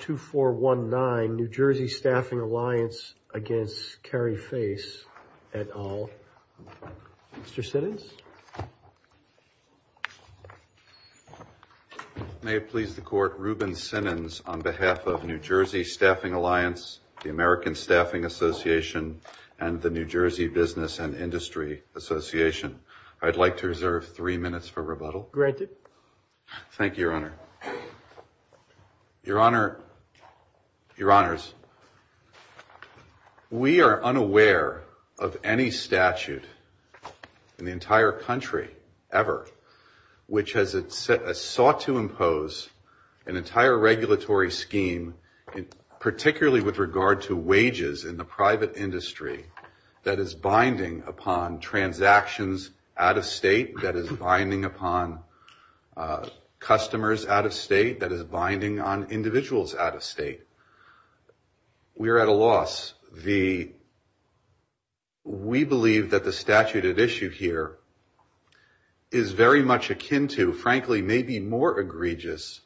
NewJerseyStaffingAlliance, etalv. Mr. Sinens. May it please the Court, Ruben Sinens on behalf of NewJerseyStaffingAlliance, the American Staffing Association, and the NewJersey Business and Industry Association. I'd like to reserve three minutes for rebuttal. Granted. Thank you, Your Honor. Your Honor, Your Honors. We are unaware of any statute in the entire country, ever, which has sought to impose an entire regulatory scheme, particularly with regard to wages in the private industry, that is binding upon transactions out of state, that is binding upon customers out of state, that is binding on individuals out of state. We are at a loss. We believe that the statute at issue here is very much akin to, frankly, maybe more egregious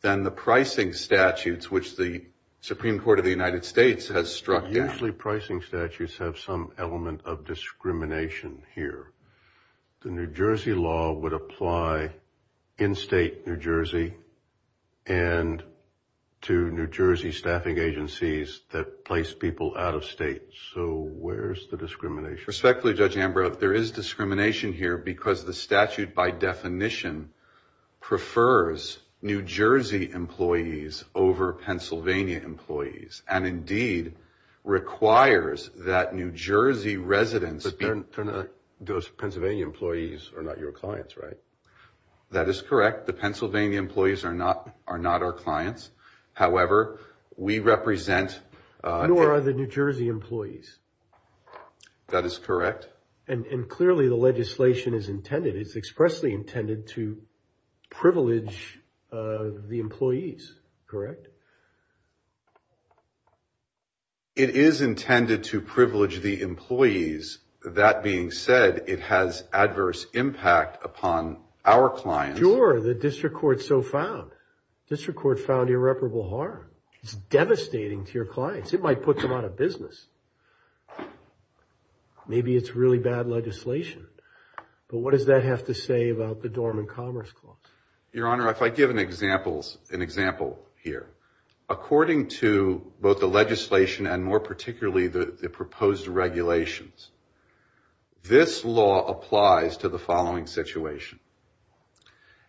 than the pricing statutes, which the Supreme Court of the United States has struck down. Usually pricing statutes have some element of discrimination here. The New Jersey law would apply in state New Jersey and to New Jersey staffing agencies that place people out of state. So where is the discrimination? Respectfully, Judge Ambrose, there is discrimination here because the statute, by definition, prefers New Jersey employees over Pennsylvania employees, and indeed requires that New Jersey residents be your Pennsylvania employees are not your clients, right? That is correct. The Pennsylvania employees are not our clients. However, we represent Nor are the New Jersey employees. That is correct. And clearly the legislation is intended, it's expressly intended to privilege the employees, correct? It is intended to privilege the employees. That being said, it has adverse impact upon our clients. Sure. The district court so found. District court found irreparable harm. It's devastating to your clients. It might put them out of business. Maybe it's really bad legislation. But what does that have to say about the Dormant Commerce Clause? Your Honor, if I give an example here, according to both the legislation and more particularly the proposed regulations, this law applies to the following situation.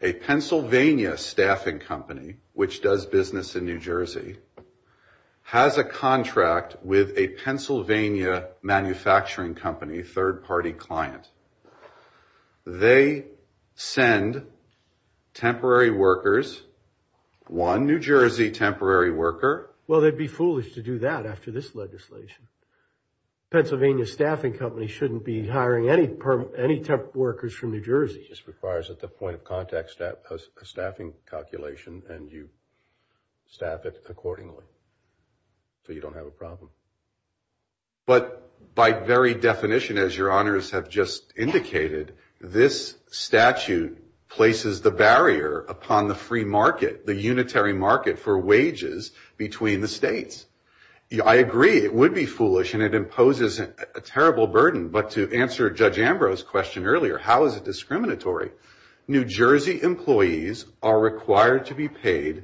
A Pennsylvania staffing company, which does business in New Jersey, has a contract with a Pennsylvania manufacturing company, third-party client. They send temporary workers, one New Jersey temporary worker. Well, they'd be foolish to do that after this legislation. Pennsylvania staffing companies shouldn't be hiring any temporary workers from New Jersey. This requires at the point of contact a staffing calculation, and you staff it accordingly so you don't have a problem. But by very definition, as your honors have just indicated, this statute places the barrier upon the free market, the unitary market for wages between the states. I agree it would be foolish and it imposes a terrible burden, but to answer Judge Ambrose's question earlier, how is it discriminatory? New Jersey employees are required to be paid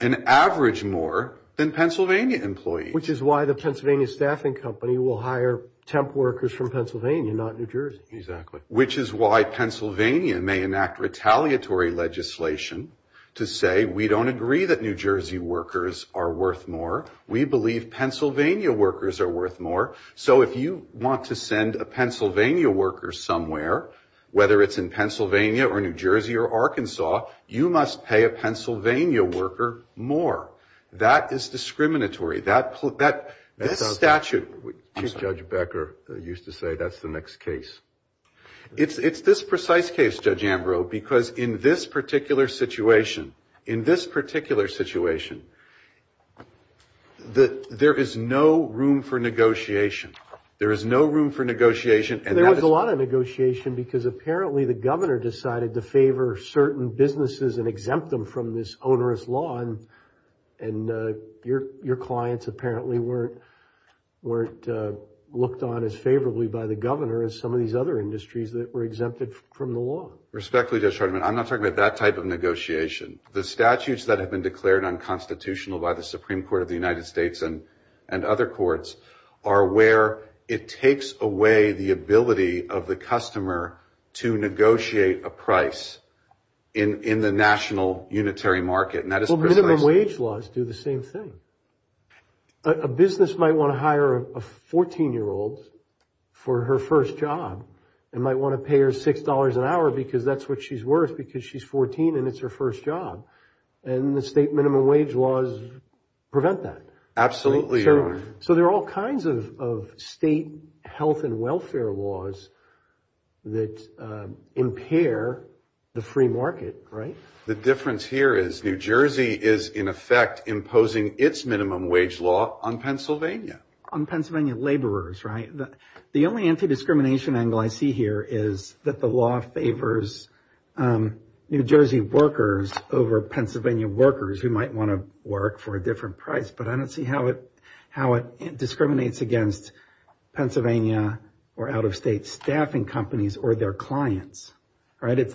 an average more than Pennsylvania employees. Which is why the Pennsylvania staffing company will hire temp workers from Pennsylvania, not New Jersey. Exactly. Which is why Pennsylvania may enact retaliatory legislation to say we don't agree that New Jersey workers are worth more. We believe Pennsylvania workers are worth more. So if you want to send a Pennsylvania worker somewhere, whether it's in Pennsylvania or New Jersey or Arkansas, you must pay a Pennsylvania worker more. That is discriminatory. Judge Becker used to say that's the next case. It's this precise case, Judge Ambrose, because in this particular situation, in this particular situation, there is no room for negotiation. There is no room for negotiation. There was a lot of negotiation because apparently the governor decided to favor certain businesses and exempt them from this onerous law, and your clients apparently weren't looked on as favorably by the governor as some of these other industries that were exempted from the law. Respectfully, Judge Hardiman, I'm not talking about that type of negotiation. The statutes that have been declared unconstitutional by the Supreme Court of the United States and other courts are where it takes away the ability of the customer to negotiate a price in the national unitary market, and that is precise. Well, minimum wage laws do the same thing. A business might want to hire a 14-year-old for her first job and might want to pay her $6 an hour because that's what she's worth because she's 14 and it's her first job, and the state minimum wage laws prevent that. Absolutely, Your Honor. So there are all kinds of state health and welfare laws that impair the free market, right? The difference here is New Jersey is in effect imposing its minimum wage law on Pennsylvania. On Pennsylvania laborers, right? The only anti-discrimination angle I see here is that the law favors New Jersey workers over Pennsylvania workers who might want to work for a different price, but I don't see how it discriminates against Pennsylvania or out-of-state staffing companies or their clients, right?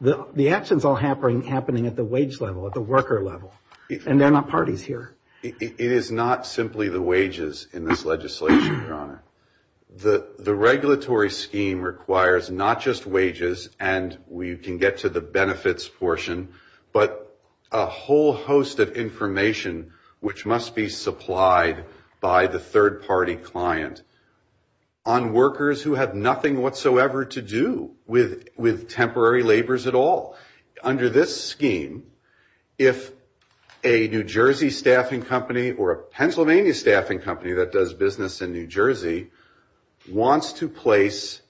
The action's all happening at the wage level, at the worker level, and they're not parties here. It is not simply the wages in this legislation, Your Honor. The regulatory scheme requires not just wages, and we can get to the benefits portion, but a whole host of information which must be supplied by the third-party client on workers who have nothing whatsoever to do with temporary laborers at all. Under this scheme, if a New Jersey staffing company or a Pennsylvania staffing company that does business in New Jersey wants to place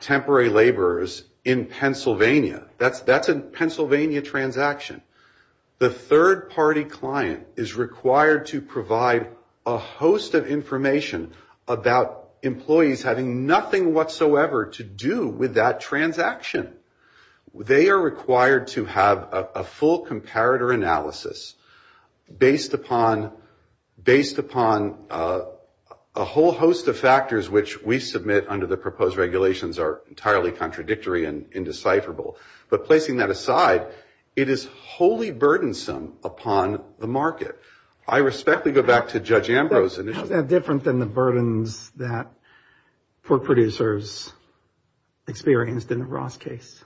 temporary laborers in Pennsylvania, that's a Pennsylvania transaction. The third-party client is required to provide a host of information about employees having nothing whatsoever to do with that transaction. They are required to have a full comparator analysis based upon a whole host of factors which we submit under the proposed regulations are entirely contradictory and indecipherable. But placing that aside, it is wholly burdensome upon the market. I respectfully go back to Judge Ambrose initially. Is that different than the burdens that pork producers experienced in the Ross case?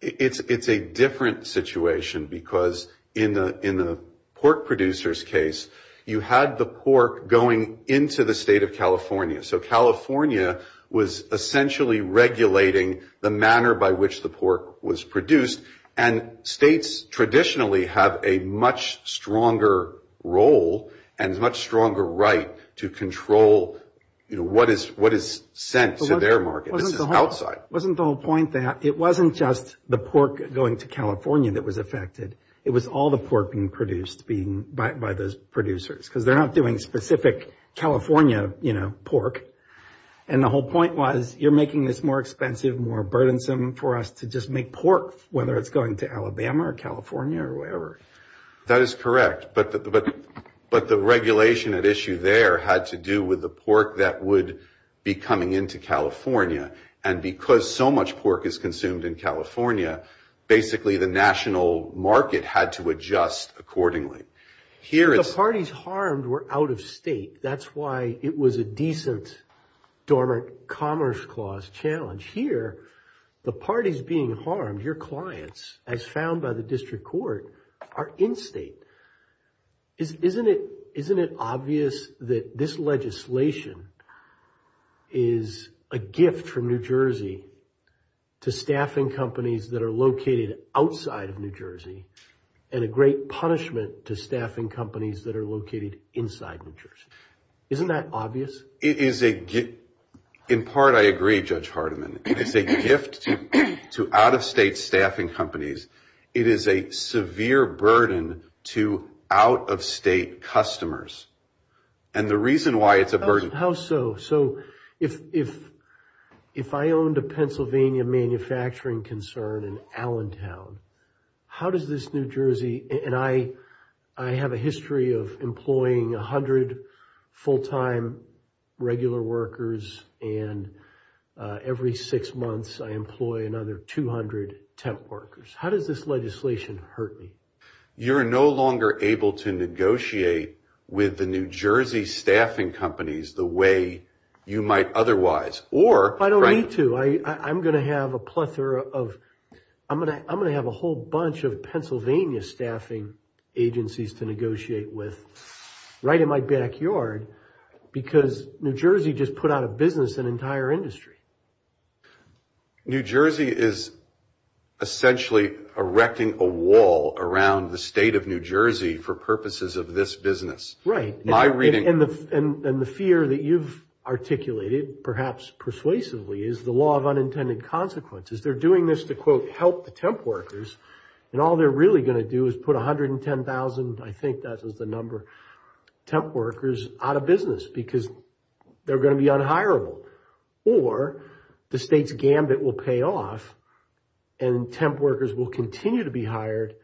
It's a different situation because in the pork producer's case, you had the pork going into the state of California. So California was essentially regulating the manner by which the pork was produced, and states traditionally have a much stronger role and a much stronger right to control what is sent to their market. This is outside. It wasn't just the pork going to California that was affected. It was all the pork being produced by those producers because they're not doing specific California pork. And the whole point was you're making this more expensive, more burdensome for us to just make pork, whether it's going to Alabama or California or wherever. That is correct. But the regulation at issue there had to do with the pork that would be coming into California. And because so much pork is consumed in California, basically the national market had to adjust accordingly. The parties harmed were out of state. That's why it was a decent dormant commerce clause challenge. Here, the parties being harmed, your clients, as found by the district court, are in state. Isn't it obvious that this legislation is a gift from New Jersey to staffing companies that are located outside of New Jersey and a great punishment to staffing companies that are located inside New Jersey? Isn't that obvious? In part, I agree, Judge Hardiman. It's a gift to out-of-state staffing companies. It is a severe burden to out-of-state customers. And the reason why it's a burden... How so? So if I owned a Pennsylvania manufacturing concern in Allentown, how does this New Jersey... And I have a history of employing 100 full-time regular workers, and every six months I employ another 200 temp workers. How does this legislation hurt me? You're no longer able to negotiate with the New Jersey staffing companies the way you might otherwise. I don't need to. I'm going to have a whole bunch of Pennsylvania staffing agencies to negotiate with right in my backyard because New Jersey just put out a business, an entire industry. New Jersey is essentially erecting a wall around the state of New Jersey for purposes of this business. Right, and the fear that you've articulated, perhaps persuasively, is the law of unintended consequences. They're doing this to, quote, help the temp workers, and all they're really going to do is put 110,000, I think that was the number, temp workers out of business because they're going to be unhirable. Or the state's gambit will pay off, and temp workers will continue to be hired,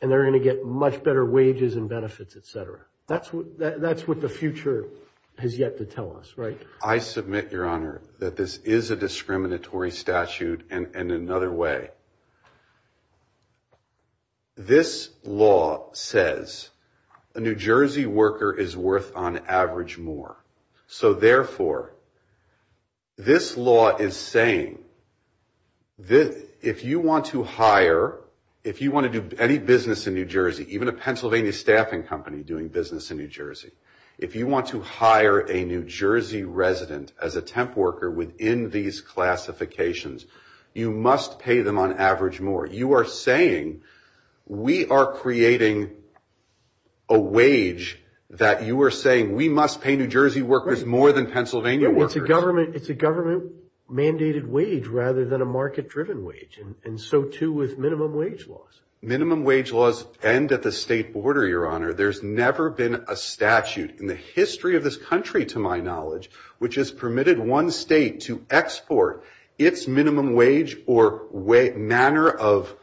and they're going to get much better wages and benefits, et cetera. That's what the future has yet to tell us, right? I submit, Your Honor, that this is a discriminatory statute in another way. This law says a New Jersey worker is worth, on average, more. So, therefore, this law is saying if you want to hire, if you want to do any business in New Jersey, even a Pennsylvania staffing company doing business in New Jersey, if you want to hire a New Jersey resident as a temp worker within these classifications, you must pay them, on average, more. You are saying we are creating a wage that you are saying we must pay New Jersey workers more than Pennsylvania workers. It's a government-mandated wage rather than a market-driven wage, and so, too, with minimum wage laws. Minimum wage laws end at the state border, Your Honor. There's never been a statute in the history of this country, to my knowledge, which has permitted one state to export its minimum wage or manner of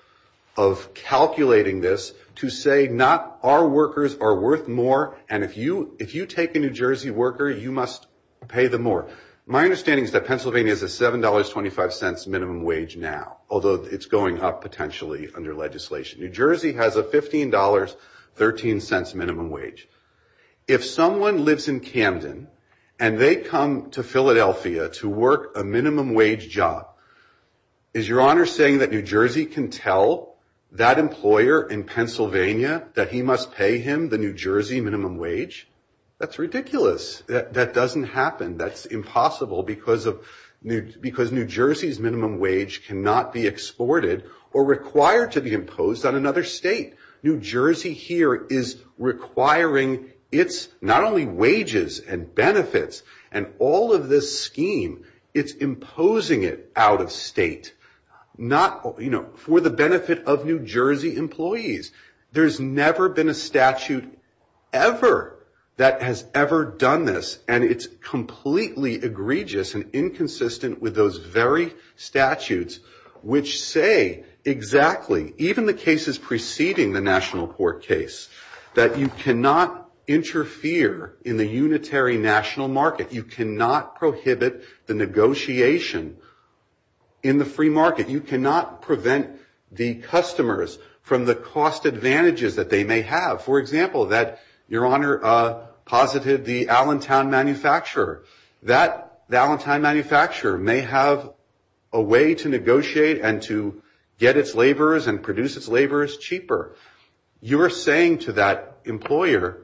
calculating this to say not our workers are worth more, and if you take a New Jersey worker, you must pay them more. My understanding is that Pennsylvania is a $7.25 minimum wage now, although it's going up potentially under legislation. New Jersey has a $15.13 minimum wage. If someone lives in Camden and they come to Philadelphia to work a minimum wage job, is Your Honor saying that New Jersey can tell that employer in Pennsylvania that he must pay him the New Jersey minimum wage? That's ridiculous. That doesn't happen. That's impossible because New Jersey's minimum wage cannot be exported or required to be imposed on another state. New Jersey here is requiring its not only wages and benefits and all of this scheme, it's imposing it out of state for the benefit of New Jersey employees. There's never been a statute ever that has ever done this, and it's completely egregious and inconsistent with those very statutes which say exactly, even the cases preceding the national court case, that you cannot interfere in the unitary national market. You cannot prohibit the negotiation in the free market. You cannot prevent the customers from the cost advantages that they may have. For example, Your Honor posited the Allentown manufacturer. That Allentown manufacturer may have a way to negotiate and to get its laborers and produce its laborers cheaper. You're saying to that employer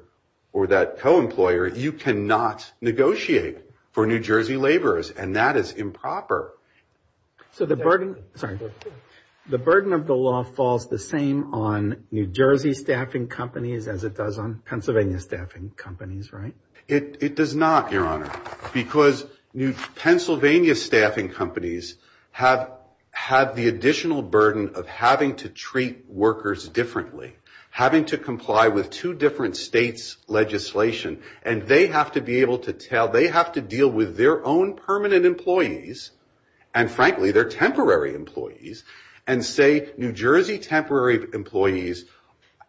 or that co-employer, you cannot negotiate for New Jersey laborers, and that is improper. So the burden of the law falls the same on New Jersey staffing companies as it does on Pennsylvania staffing companies, right? It does not, Your Honor, because New Pennsylvania staffing companies have the additional burden of having to treat workers differently, having to comply with two different states' legislation, and they have to be able to tell, they have to deal with their own permanent employees, and frankly, their temporary employees, and say New Jersey temporary employees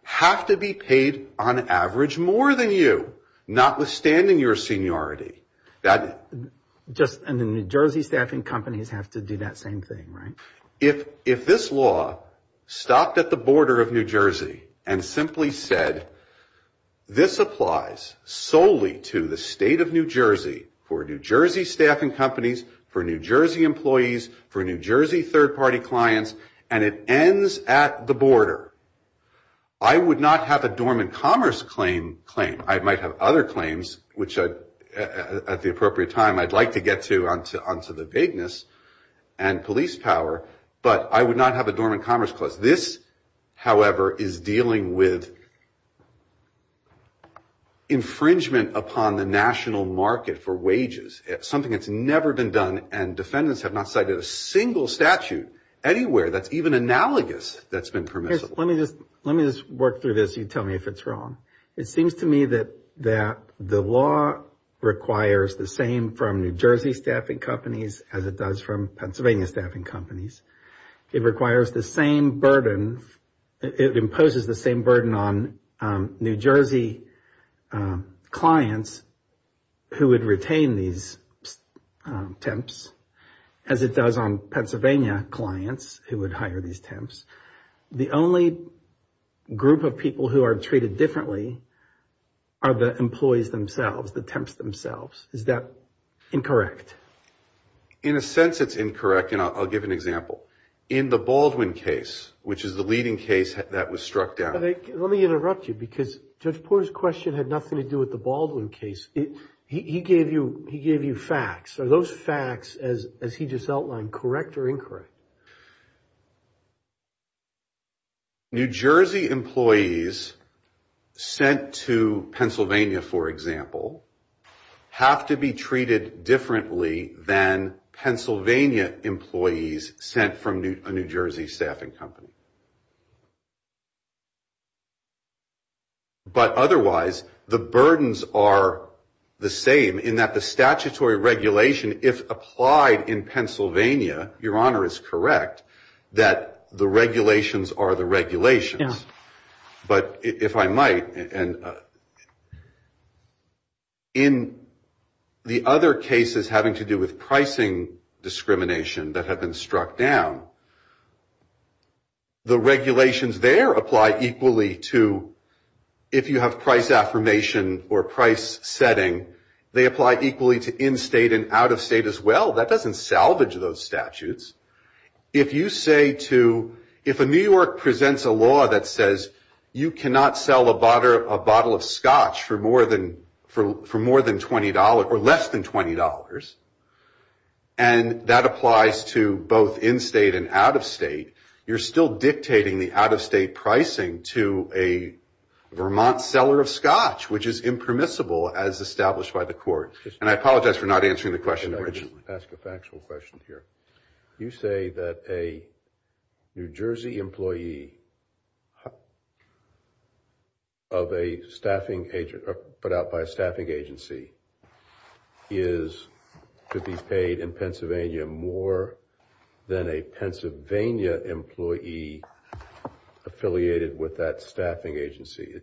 have to be paid on average more than you, notwithstanding your seniority. And the New Jersey staffing companies have to do that same thing, right? If this law stopped at the border of New Jersey and simply said, this applies solely to the state of New Jersey for New Jersey staffing companies, for New Jersey employees, for New Jersey third-party clients, and it ends at the border, I would not have a dormant commerce claim. I might have other claims, which at the appropriate time, I'd like to get to onto the vagueness and police power, but I would not have a dormant commerce clause. This, however, is dealing with infringement upon the national market for wages, something that's never been done, and defendants have not cited a single statute anywhere that's even analogous that's been permissible. Let me just work through this. You tell me if it's wrong. It seems to me that the law requires the same from New Jersey staffing companies as it does from Pennsylvania staffing companies. It requires the same burden. It imposes the same burden on New Jersey clients who would retain these temps as it does on Pennsylvania clients who would hire these temps. The only group of people who are treated differently are the employees themselves, the temps themselves. Is that incorrect? In a sense it's incorrect, and I'll give an example. In the Baldwin case, which is the leading case that was struck down. Let me interrupt you because Judge Porter's question had nothing to do with the Baldwin case. He gave you facts. Are those facts, as he just outlined, correct or incorrect? New Jersey employees sent to Pennsylvania, for example, have to be treated differently than Pennsylvania employees sent from a New Jersey staffing company. But otherwise, the burdens are the same in that the statutory regulation, if applied in Pennsylvania, Your Honor is correct, that the regulations are the regulations. But if I might, in the other cases having to do with pricing discrimination that have been struck down, the regulations there apply equally to, if you have price affirmation or price setting, they apply equally to in-state and out-of-state as well. That doesn't salvage those statutes. If you say to, if a New York presents a law that says you cannot sell a bottle of scotch for more than $20 or less than $20, and that applies to both in-state and out-of-state, you're still dictating the out-of-state pricing to a Vermont seller of scotch, which is impermissible as established by the court. And I apologize for not answering the question originally. I'm going to ask a factual question here. You say that a New Jersey employee put out by a staffing agency is to be paid in Pennsylvania more than a Pennsylvania employee affiliated with that staffing agency.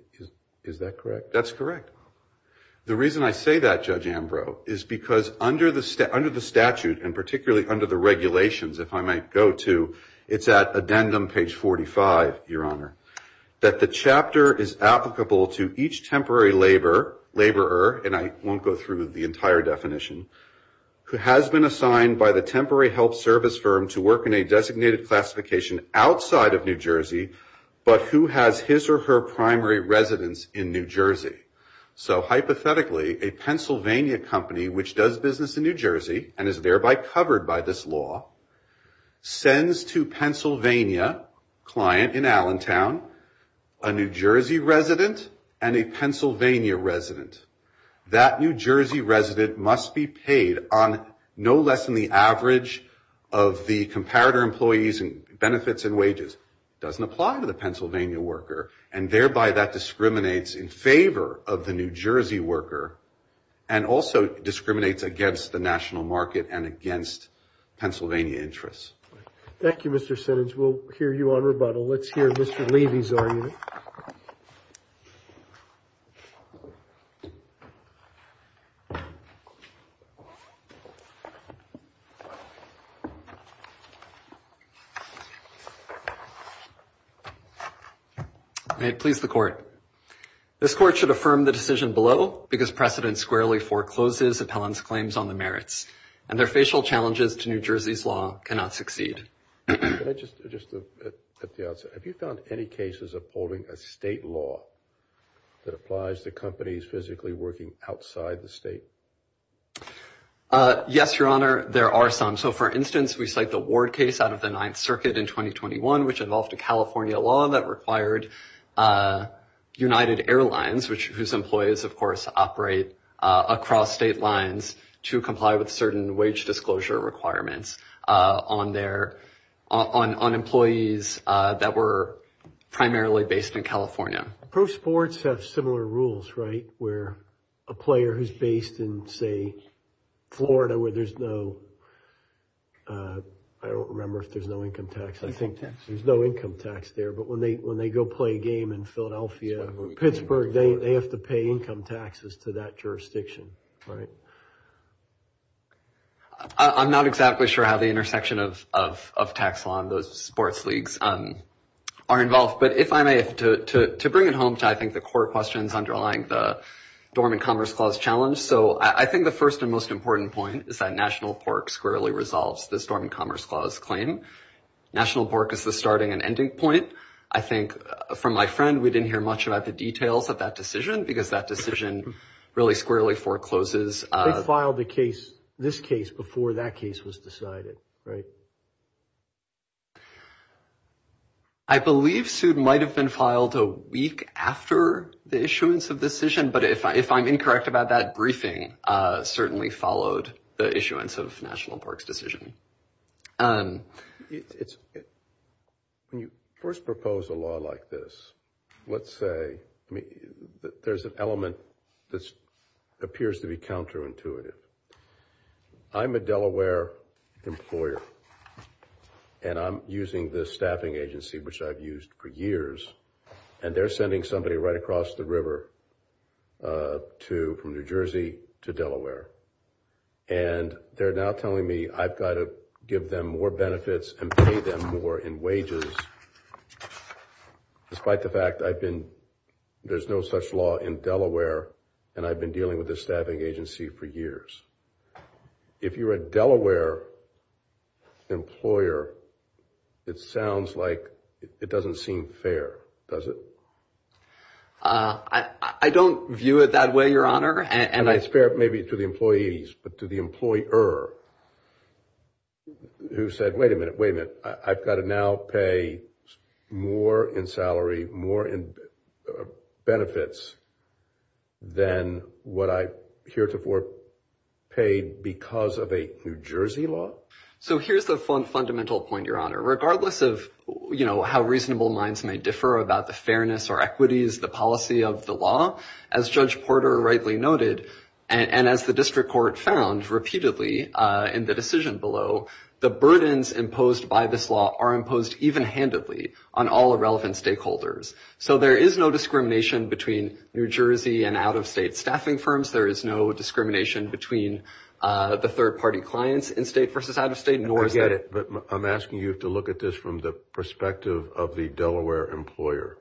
Is that correct? That's correct. The reason I say that, Judge Ambrose, is because under the statute, and particularly under the regulations, if I might go to, it's at addendum page 45, Your Honor, that the chapter is applicable to each temporary laborer, and I won't go through the entire definition, who has been assigned by the temporary health service firm to work in a designated classification outside of New Jersey, but who has his or her primary residence in New Jersey. So hypothetically, a Pennsylvania company, which does business in New Jersey and is thereby covered by this law, sends to Pennsylvania, client in Allentown, a New Jersey resident and a Pennsylvania resident. That New Jersey resident must be paid on no less than the average of the New Jersey worker and also discriminates against the national market and against Pennsylvania interests. Thank you, Mr. Sinage. We'll hear you on rebuttal. Let's hear Mr. Levy's argument. May it please the Court. This Court should affirm the decision below because precedent squarely forecloses appellant's claims on the merits, and their facial challenges to New Jersey's law cannot succeed. Just at the outset, have you found any cases upholding a state law that applies to companies physically working outside the state? Yes, Your Honor, there are some. So for instance, we cite the Ward case out of the Ninth Circuit in 2021, which involved a California law that required United Airlines, whose employees, of course, operate across state lines to comply with certain wage disclosure requirements on their, on employees that were primarily based in California. Pro sports have similar rules, right? Where a player who's based in, say, Florida where there's no, I don't remember if there's no income tax. I think there's no income tax there, but when they go play a game in Philadelphia or Pittsburgh, they have to pay income taxes to that jurisdiction, right? I'm not exactly sure how the intersection of tax law and those sports leagues are involved, but if I may, to bring it home to I think the core questions underlying the Dormant Commerce Clause challenge. So I think the first and most important point is that National Pork squarely resolves this Dormant Commerce Clause claim. National Pork is the starting and ending point. I think from my friend, we didn't hear much about the details of that decision because that filed the case, this case before that case was decided, right? I believe sued might have been filed a week after the issuance of decision, but if I'm incorrect about that briefing, certainly followed the issuance of National Parks decision. When you first propose a law like this, let's say, there's an element that appears to be counterintuitive. I'm a Delaware employer and I'm using this staffing agency, which I've used for years and they're sending somebody right across the river to from New Jersey to Delaware. And they're now telling me I've got to give them more benefits and pay them more in wages. Despite the fact I've been, there's no such law in Delaware and I've been dealing with this staffing agency for years. If you're a Delaware employer, it sounds like it doesn't seem fair, does it? I don't view it that way, Your Honor. And I spare it maybe to the employees, but to the employer who said, wait a minute, wait a minute. I've got to now pay more in salary, more in benefits than what I heretofore paid because of a New Jersey law. So here's the fundamental point, Your Honor, regardless of, you know, how reasonable minds may differ about the fairness or equities, the policy of the law, as Judge Porter rightly noted. And as the district court found repeatedly in the decision below the burdens imposed by this law are imposed even handedly on all irrelevant stakeholders. So there is no discrimination between New Jersey and out-of-state staffing firms. There is no discrimination between the third-party clients in state versus out-of-state. I get it. But I'm asking you to look at this from the perspective of the Delaware employer.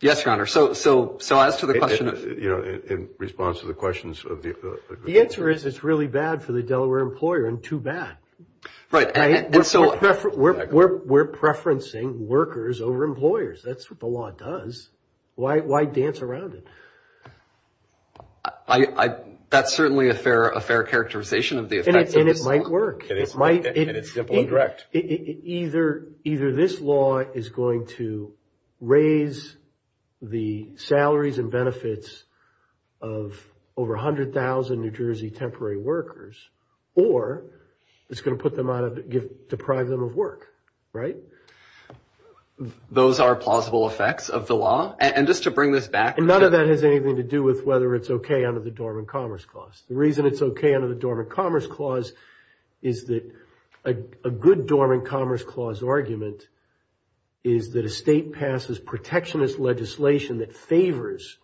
Yes, Your Honor. So as to the question, you know, in response to the questions of the group. The answer is it's really bad for the Delaware employer and too bad. Right. And so we're preferencing workers over employers. That's what the law does. Why dance around it? That's certainly a fair characterization of the effects of this law. And it might work. And it's simple and direct. Either this law is going to raise the salaries and benefits of over 100,000 New Jersey temporary workers or it's going to put them out of, deprive them of work. Right. Those are plausible effects of the law. And just to bring this back. And none of that has anything to do with whether it's okay under the Dormant Commerce Clause. The reason it's okay under the Dormant Commerce Clause is that a good Dormant Commerce Clause argument is that a state passes protectionist legislation that favors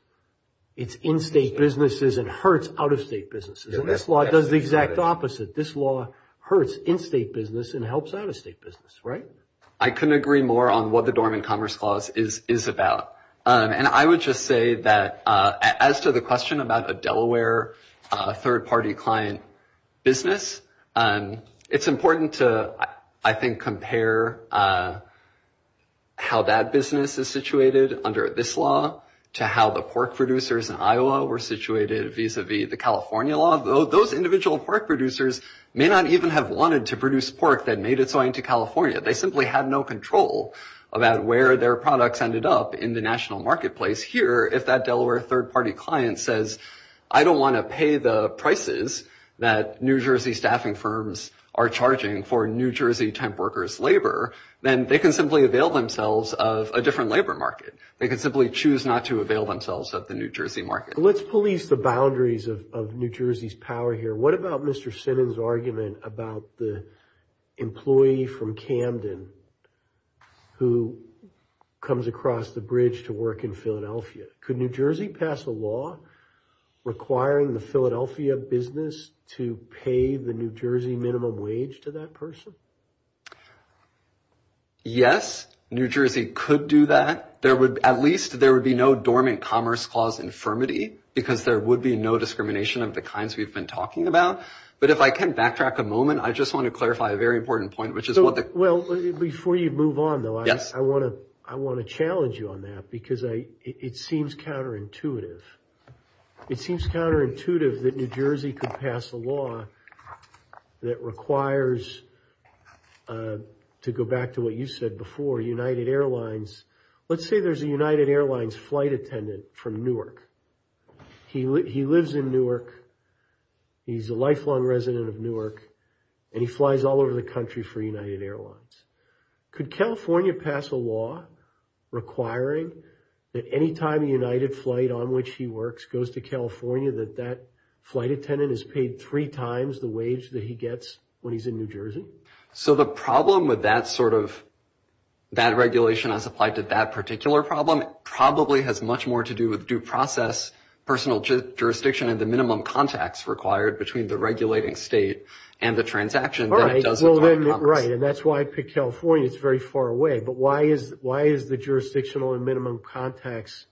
its in-state businesses and hurts out-of-state businesses. And this law does the exact opposite. This law hurts in-state business and helps out-of-state business. Right. I couldn't agree more on what the Dormant Commerce Clause is about. And I would just say that as to the question about a Delaware third-party client business, it's important to, I think, compare how that business is situated under this law to how the pork producers in Iowa were situated vis-a-vis the California law. Those individual pork producers may not even have wanted to produce pork that made its way into California. They simply had no control about where their products ended up in the national marketplace. Here, if that Delaware third-party client says, I don't want to pay the prices that New Jersey staffing firms are charging for New Jersey temp workers' labor, then they can simply avail themselves of a different labor market. They can simply choose not to avail themselves of the New Jersey market. Let's police the boundaries of New Jersey's power here. What about Mr. Sinan's argument about the employee from Camden who comes across the bridge to work in Philadelphia? Could New Jersey pass a law requiring the Philadelphia business to pay the New Jersey minimum wage to that person? Yes, New Jersey could do that. At least there would be no Dormant Commerce Clause infirmity because there would be no discrimination of the kinds we've been talking about. But if I can backtrack a moment, I just want to clarify a very important point. Well, before you move on, though, I want to challenge you on that because it seems counterintuitive. It seems counterintuitive that New Jersey could pass a law that requires, to go back to what you said before, United Airlines. Let's say there's a United Airlines flight attendant from Newark. He lives in Newark. He's a lifelong resident of Newark. And he flies all over the country for United Airlines. Could California pass a law requiring that any time a United flight on which he works goes to California that that flight attendant is paid three times the wage that he gets when he's in New Jersey? So the problem with that sort of, that regulation as applied to that particular problem probably has much more to do with due process, personal jurisdiction and the minimum contacts required between the regulating state and the transaction than it does with Dormant Commerce. Right, and that's why I picked California. It's very far away. But why is the jurisdictional and minimum contacts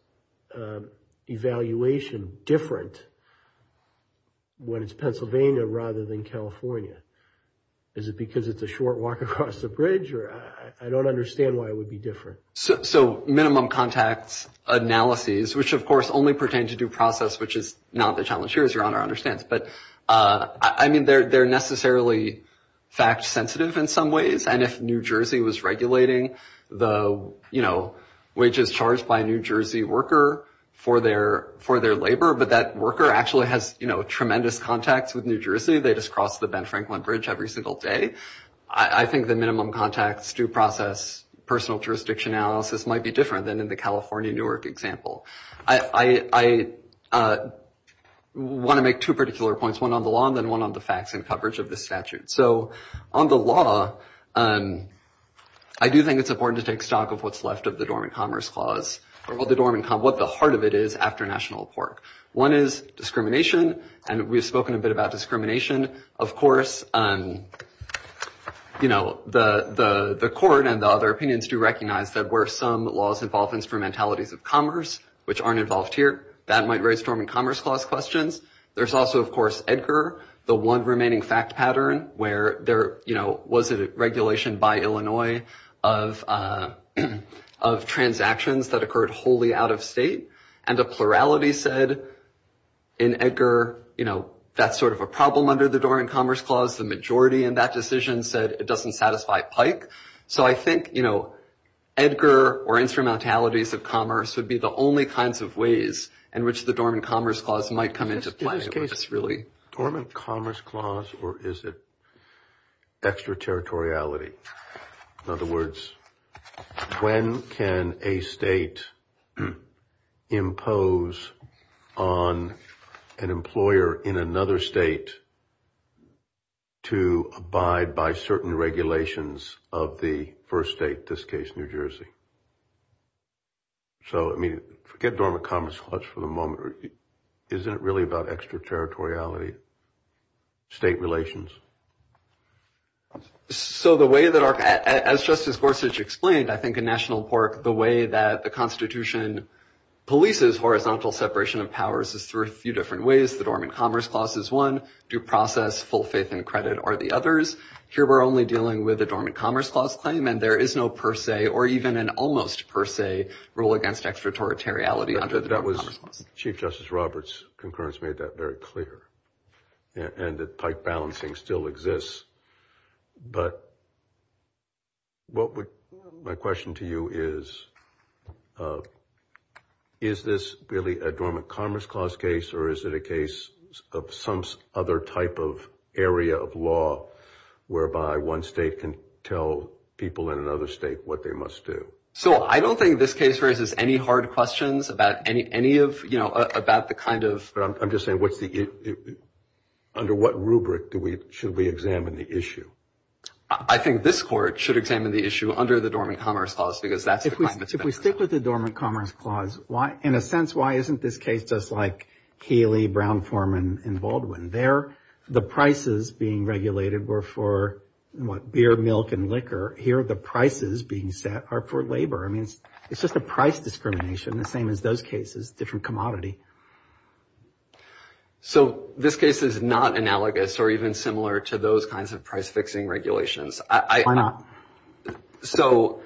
evaluation different when it's Pennsylvania rather than California? Is it because it's a short walk across the bridge, or I don't understand why it would be different? So minimum contacts analyses, which of course only pertain to due process, which is not the challenge here, as Your Honor understands. But I mean, they're necessarily fact sensitive in some ways. And if New Jersey was regulating the, you know, wages charged by a New Jersey worker for their labor, but that worker actually has, you know, tremendous contacts with New Jersey. They just cross the Ben Franklin Bridge every single day. I mean, I think the minimum contacts due process, personal jurisdiction analysis might be different than in the California Newark example. I want to make two particular points, one on the law, and then one on the facts and coverage of the statute. So on the law, I do think it's important to take stock of what's left of the Dormant Commerce clause, what the heart of it is after National Pork. One is discrimination, and we've spoken a bit about discrimination. Of course, you know, the court and the other opinions do recognize that where some laws involve instrumentalities of commerce, which aren't involved here, that might raise Dormant Commerce clause questions. There's also, of course, Edgar, the one remaining fact pattern where there, you know, was it a regulation by Illinois of transactions that occurred wholly out of state? And the plurality said in Edgar, you know, that's sort of a problem under the Dormant Commerce clause. The majority in that decision said it doesn't satisfy Pike. So I think, you know, Edgar or instrumentalities of commerce would be the only kinds of ways in which the Dormant Commerce clause might come into play. It's really Dormant Commerce clause, or is it extra territoriality? In other words, when can a state impose on an employer in another state to abide by certain regulations of the first state, this case, New Jersey. So, I mean, forget Dormant Commerce clause for the moment. Isn't it really about extra territoriality, state relations? So the way that our, as Justice Gorsuch explained, I think, in National Park, the way that the constitution polices horizontal separation of powers is through a few different ways. The Dormant Commerce clause is one due process, full faith and credit are the others. Here we're only dealing with the Dormant Commerce clause claim, and there is no per se or even an almost per se rule against extra territoriality under the Dormant Commerce clause. Chief Justice Roberts' concurrence made that very clear. And that pipe balancing still exists. But what would, my question to you is, is this really a Dormant Commerce clause case, or is it a case of some other type of area of law, whereby one state can tell people in another state what they must do? So I don't think this case raises any hard questions about any of, you know, about the kind of. But I'm just saying what's the, under what rubric do we, should we examine the issue? I think this court should examine the issue under the Dormant Commerce clause, because that's. If we stick with the Dormant Commerce clause, why, in a sense, why isn't this case just like Healy, Brown, Foreman, and Baldwin? They're the prices being regulated were for what beer, milk, and liquor. Here are the prices being set are for labor. I mean, it's just a price discrimination. The same as those cases, different commodity. So this case is not analogous or even similar to those kinds of price fixing regulations. I am not. So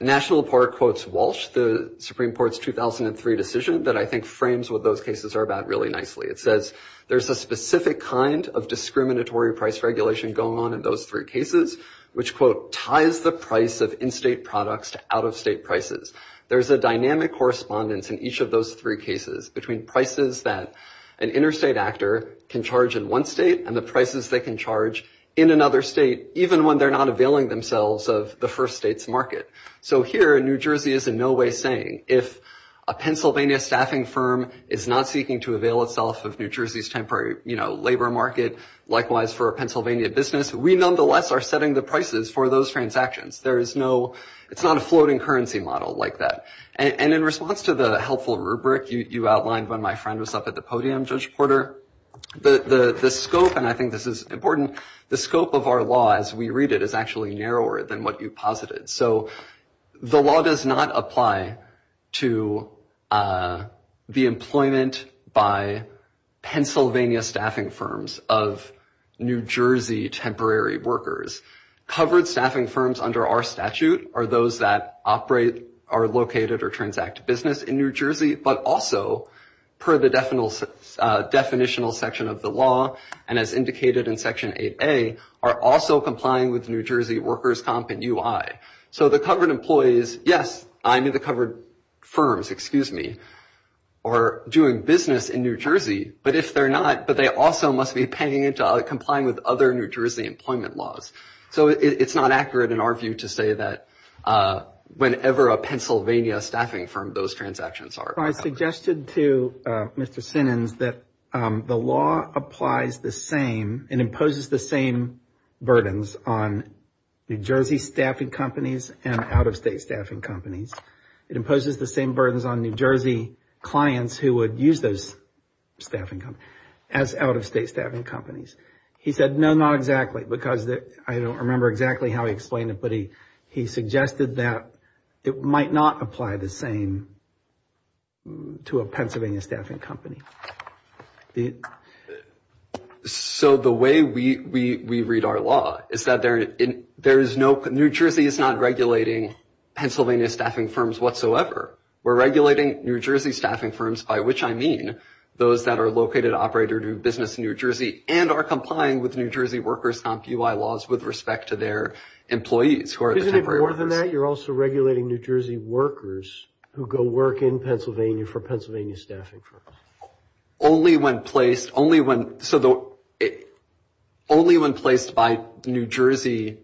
National Park quotes Walsh, the Supreme Court's 2003 decision that I think frames what those cases are about really nicely. It says there's a specific kind of discriminatory price regulation going on in those three cases, which quote ties the price of in-state products to out-of-state prices. There's a dynamic correspondence in each of those three cases between prices that an interstate actor can charge in one state and the prices they can charge in another state, even when they're not availing themselves of the first state's market. So here in New Jersey is in no way saying if a Pennsylvania staffing firm is not seeking to avail itself of New Jersey's temporary labor market, likewise for a Pennsylvania business, we nonetheless are setting the prices for those transactions. It's not a floating currency model like that. And in response to the helpful rubric you outlined when my friend was up at the podium, Judge Porter, the scope, and I think this is important, the scope of our law as we read it is actually narrower than what you posited. So the law does not apply to the employment by Pennsylvania staffing firms of New Jersey temporary workers. Covered staffing firms under our statute are those that operate, are located, or transact business in New Jersey, but also per the definitional section of the law, and as indicated in Section 8A, are also complying with New Jersey workers' comp and UI. So the covered employees, yes, I mean the covered firms, excuse me, are doing business in New Jersey, but if they're not, but they also must be paying into complying with other New Jersey employment laws. So it's not accurate in our view to say that whenever a Pennsylvania staffing firm, those transactions are. I suggested to Mr. Sinens that the law applies the same and imposes the same burdens on New Jersey staffing companies and out-of-state staffing companies. It imposes the same burdens on New Jersey clients who would use those staffing companies as out-of-state staffing companies. He said, no, not exactly, because I don't remember exactly how he explained it, but he suggested that it might not apply the same to a Pennsylvania staffing company. So the way we read our law is that there is no, New Jersey is not regulating Pennsylvania staffing firms whatsoever. We're regulating New Jersey staffing firms, by which I mean, those that are located, operated, or do business in New Jersey and are complying with New Jersey workers comp UI laws with respect to their employees who are the temporary workers. Isn't it more than that? You're also regulating New Jersey workers who go work in Pennsylvania for Pennsylvania staffing firms. Only when placed, only when, so only when placed by New Jersey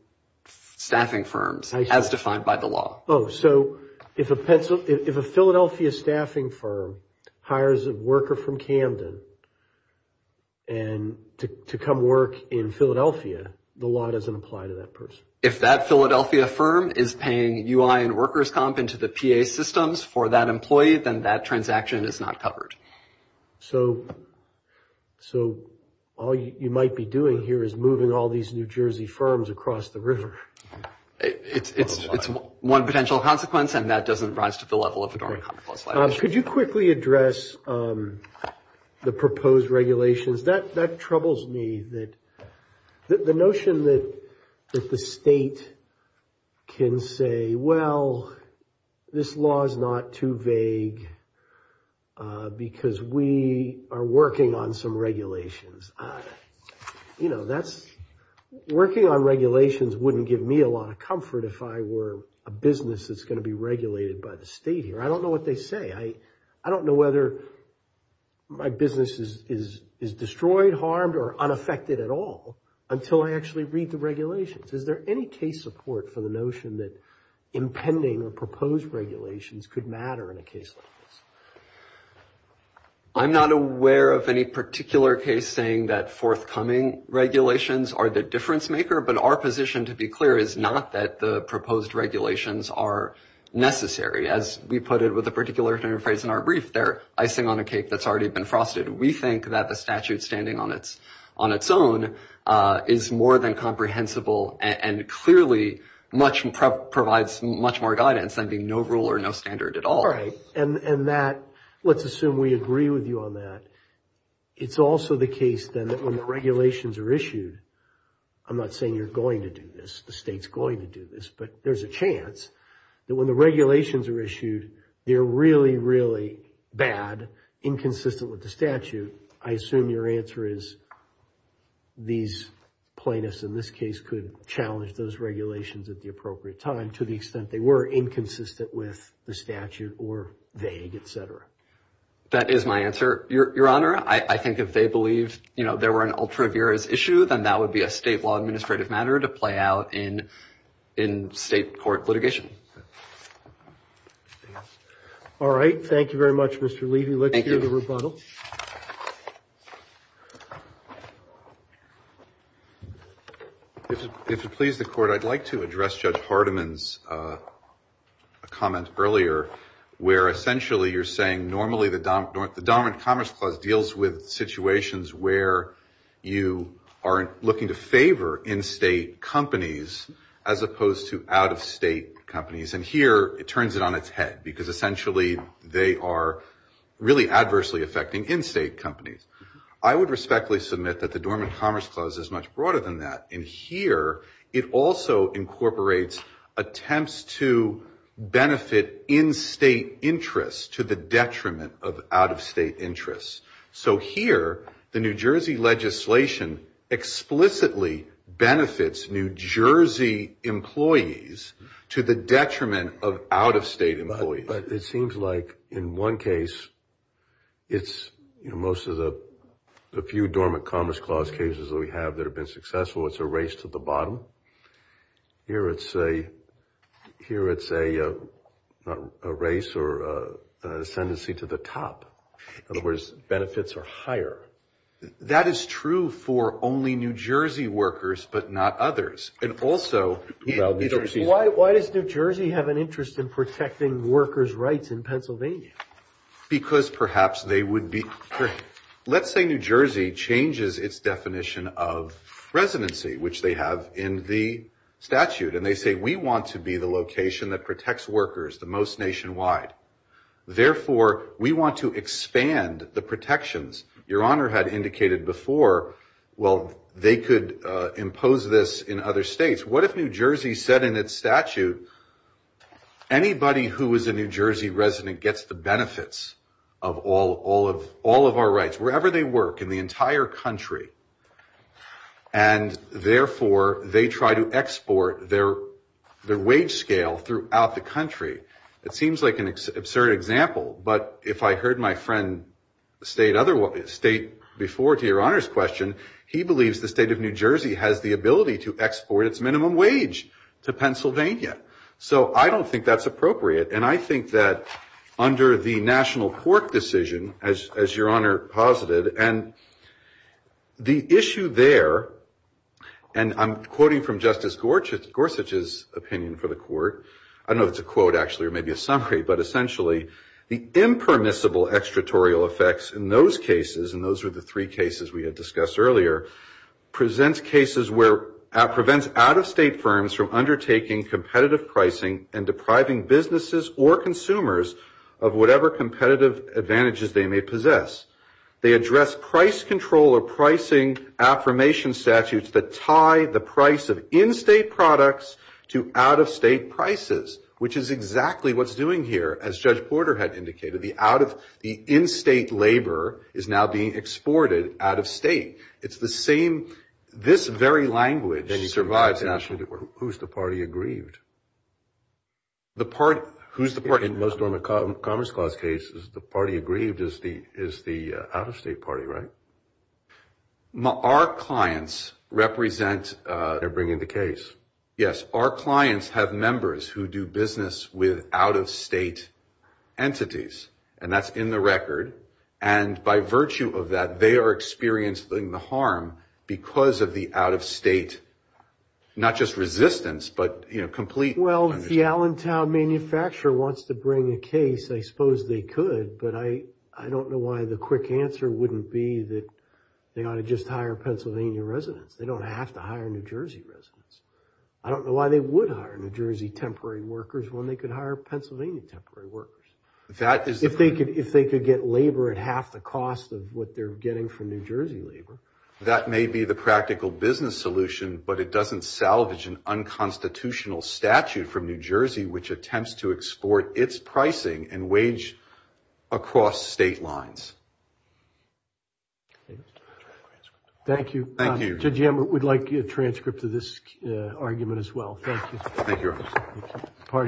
staffing firms as defined by the law. Oh, so if a Philadelphia staffing firm hires a worker from Camden and to come work in Philadelphia, the law doesn't apply to that person. If that Philadelphia firm is paying UI and workers comp into the PA systems for that employee, then that transaction is not covered. So all you might be doing here is moving all these New Jersey firms across the river. It's one potential consequence, and that doesn't rise to the level of a dormant common-clause violation. Could you quickly address the proposed regulations? That troubles me, that the notion that the state can say, well, this law is not too vague because we are working on some regulations. Working on regulations wouldn't give me a lot of comfort if I were a business that's going to be regulated by the state here. I don't know what they say. I don't know whether my business is destroyed, harmed, or unaffected at all until I actually read the regulations. Is there any case support for the notion that impending or proposed regulations could matter in a case like this? I'm not aware of any particular case saying that forthcoming regulations are the difference maker, but our position, to be clear, is not that the proposed regulations are necessary. As we put it with a particular phrase in our brief there, icing on a cake that's already been frosted. We think that the statute standing on its own is more than comprehensible and clearly provides much more guidance than being no rule or no standard at all. All right. And that, let's assume we agree with you on that. It's also the case then that when the regulations are issued, I'm not saying you're going to do this. The state's going to do this. But there's a chance that when the regulations are issued, they're really, really bad, inconsistent with the statute. I assume your answer is these plaintiffs in this case could challenge those regulations at the appropriate time to the extent they were inconsistent with the statute or vague, et cetera. That is my answer, Your Honor. I think if they believed there were an ultra vires issue, then that would be a state law administrative matter to play out in state court litigation. All right. Thank you very much, Mr. Levy. Let's hear the rebuttal. If it pleases the court, I'd like to address Judge Hardiman's comment earlier, where essentially you're saying normally the dominant commerce clause deals with situations where you are looking to favor in-state companies as opposed to out-of-state companies. And here it turns it on its head because essentially they are really adversely affecting in-state companies. I would respectfully submit that the dominant commerce clause is much broader than that. And here it also incorporates attempts to benefit in-state interests to the detriment of out-of-state interests. So here the New Jersey legislation explicitly benefits New Jersey employees to the detriment of out-of-state employees. But it seems like in one case it's, you know, most of the few dormant commerce clause cases that we have that have been successful, it's a race to the bottom. Here it's a race or ascendancy to the top. In other words, benefits are higher. That is true for only New Jersey workers but not others. Why does New Jersey have an interest in protecting workers' rights in Pennsylvania? Because perhaps they would be, let's say New Jersey changes its definition of residency, which they have in the statute. And they say we want to be the location that protects workers the most nationwide. Therefore, we want to expand the protections. Your Honor had indicated before, well, they could impose this in other states. What if New Jersey said in its statute, anybody who is a New Jersey resident gets the benefits of all of our rights, wherever they work, in the entire country. And, therefore, they try to export their wage scale throughout the country. It seems like an absurd example. But if I heard my friend state before to Your Honor's question, he believes the state of New Jersey has the ability to export its minimum wage to Pennsylvania. So I don't think that's appropriate. And I think that under the national court decision, as Your Honor posited, and the issue there, and I'm quoting from Justice Gorsuch's opinion for the court, I don't know if it's a quote actually or maybe a summary, but essentially the impermissible extratorial effects in those cases, and those were the three cases we had discussed earlier, presents cases where it prevents out-of-state firms from undertaking competitive pricing and depriving businesses or consumers of whatever competitive advantages they may possess. They address price control or pricing affirmation statutes that tie the price of in-state products to out-of-state prices, which is exactly what's doing here. As Judge Porter had indicated, the in-state labor is now being exported out-of-state. It's the same. This very language survives nationally. Who's the party aggrieved? The party. Who's the party? In most of the Commerce Clause cases, the party aggrieved is the out-of-state party, right? Our clients represent. They're bringing the case. Yes, our clients have members who do business with out-of-state entities, and that's in the record, and by virtue of that, they are experiencing the harm because of the out-of-state, not just resistance, but complete. Well, the Allentown manufacturer wants to bring a case. I suppose they could, but I don't know why the quick answer wouldn't be that they ought to just hire Pennsylvania residents. They don't have to hire New Jersey residents. I don't know why they would hire New Jersey temporary workers when they could hire Pennsylvania temporary workers. If they could get labor at half the cost of what they're getting from New Jersey labor. That may be the practical business solution, but it doesn't salvage an unconstitutional statute from New Jersey which attempts to export its pricing and wage across state lines. Thank you. Thank you. We'd like a transcript of this argument as well. Thank you. Thank you.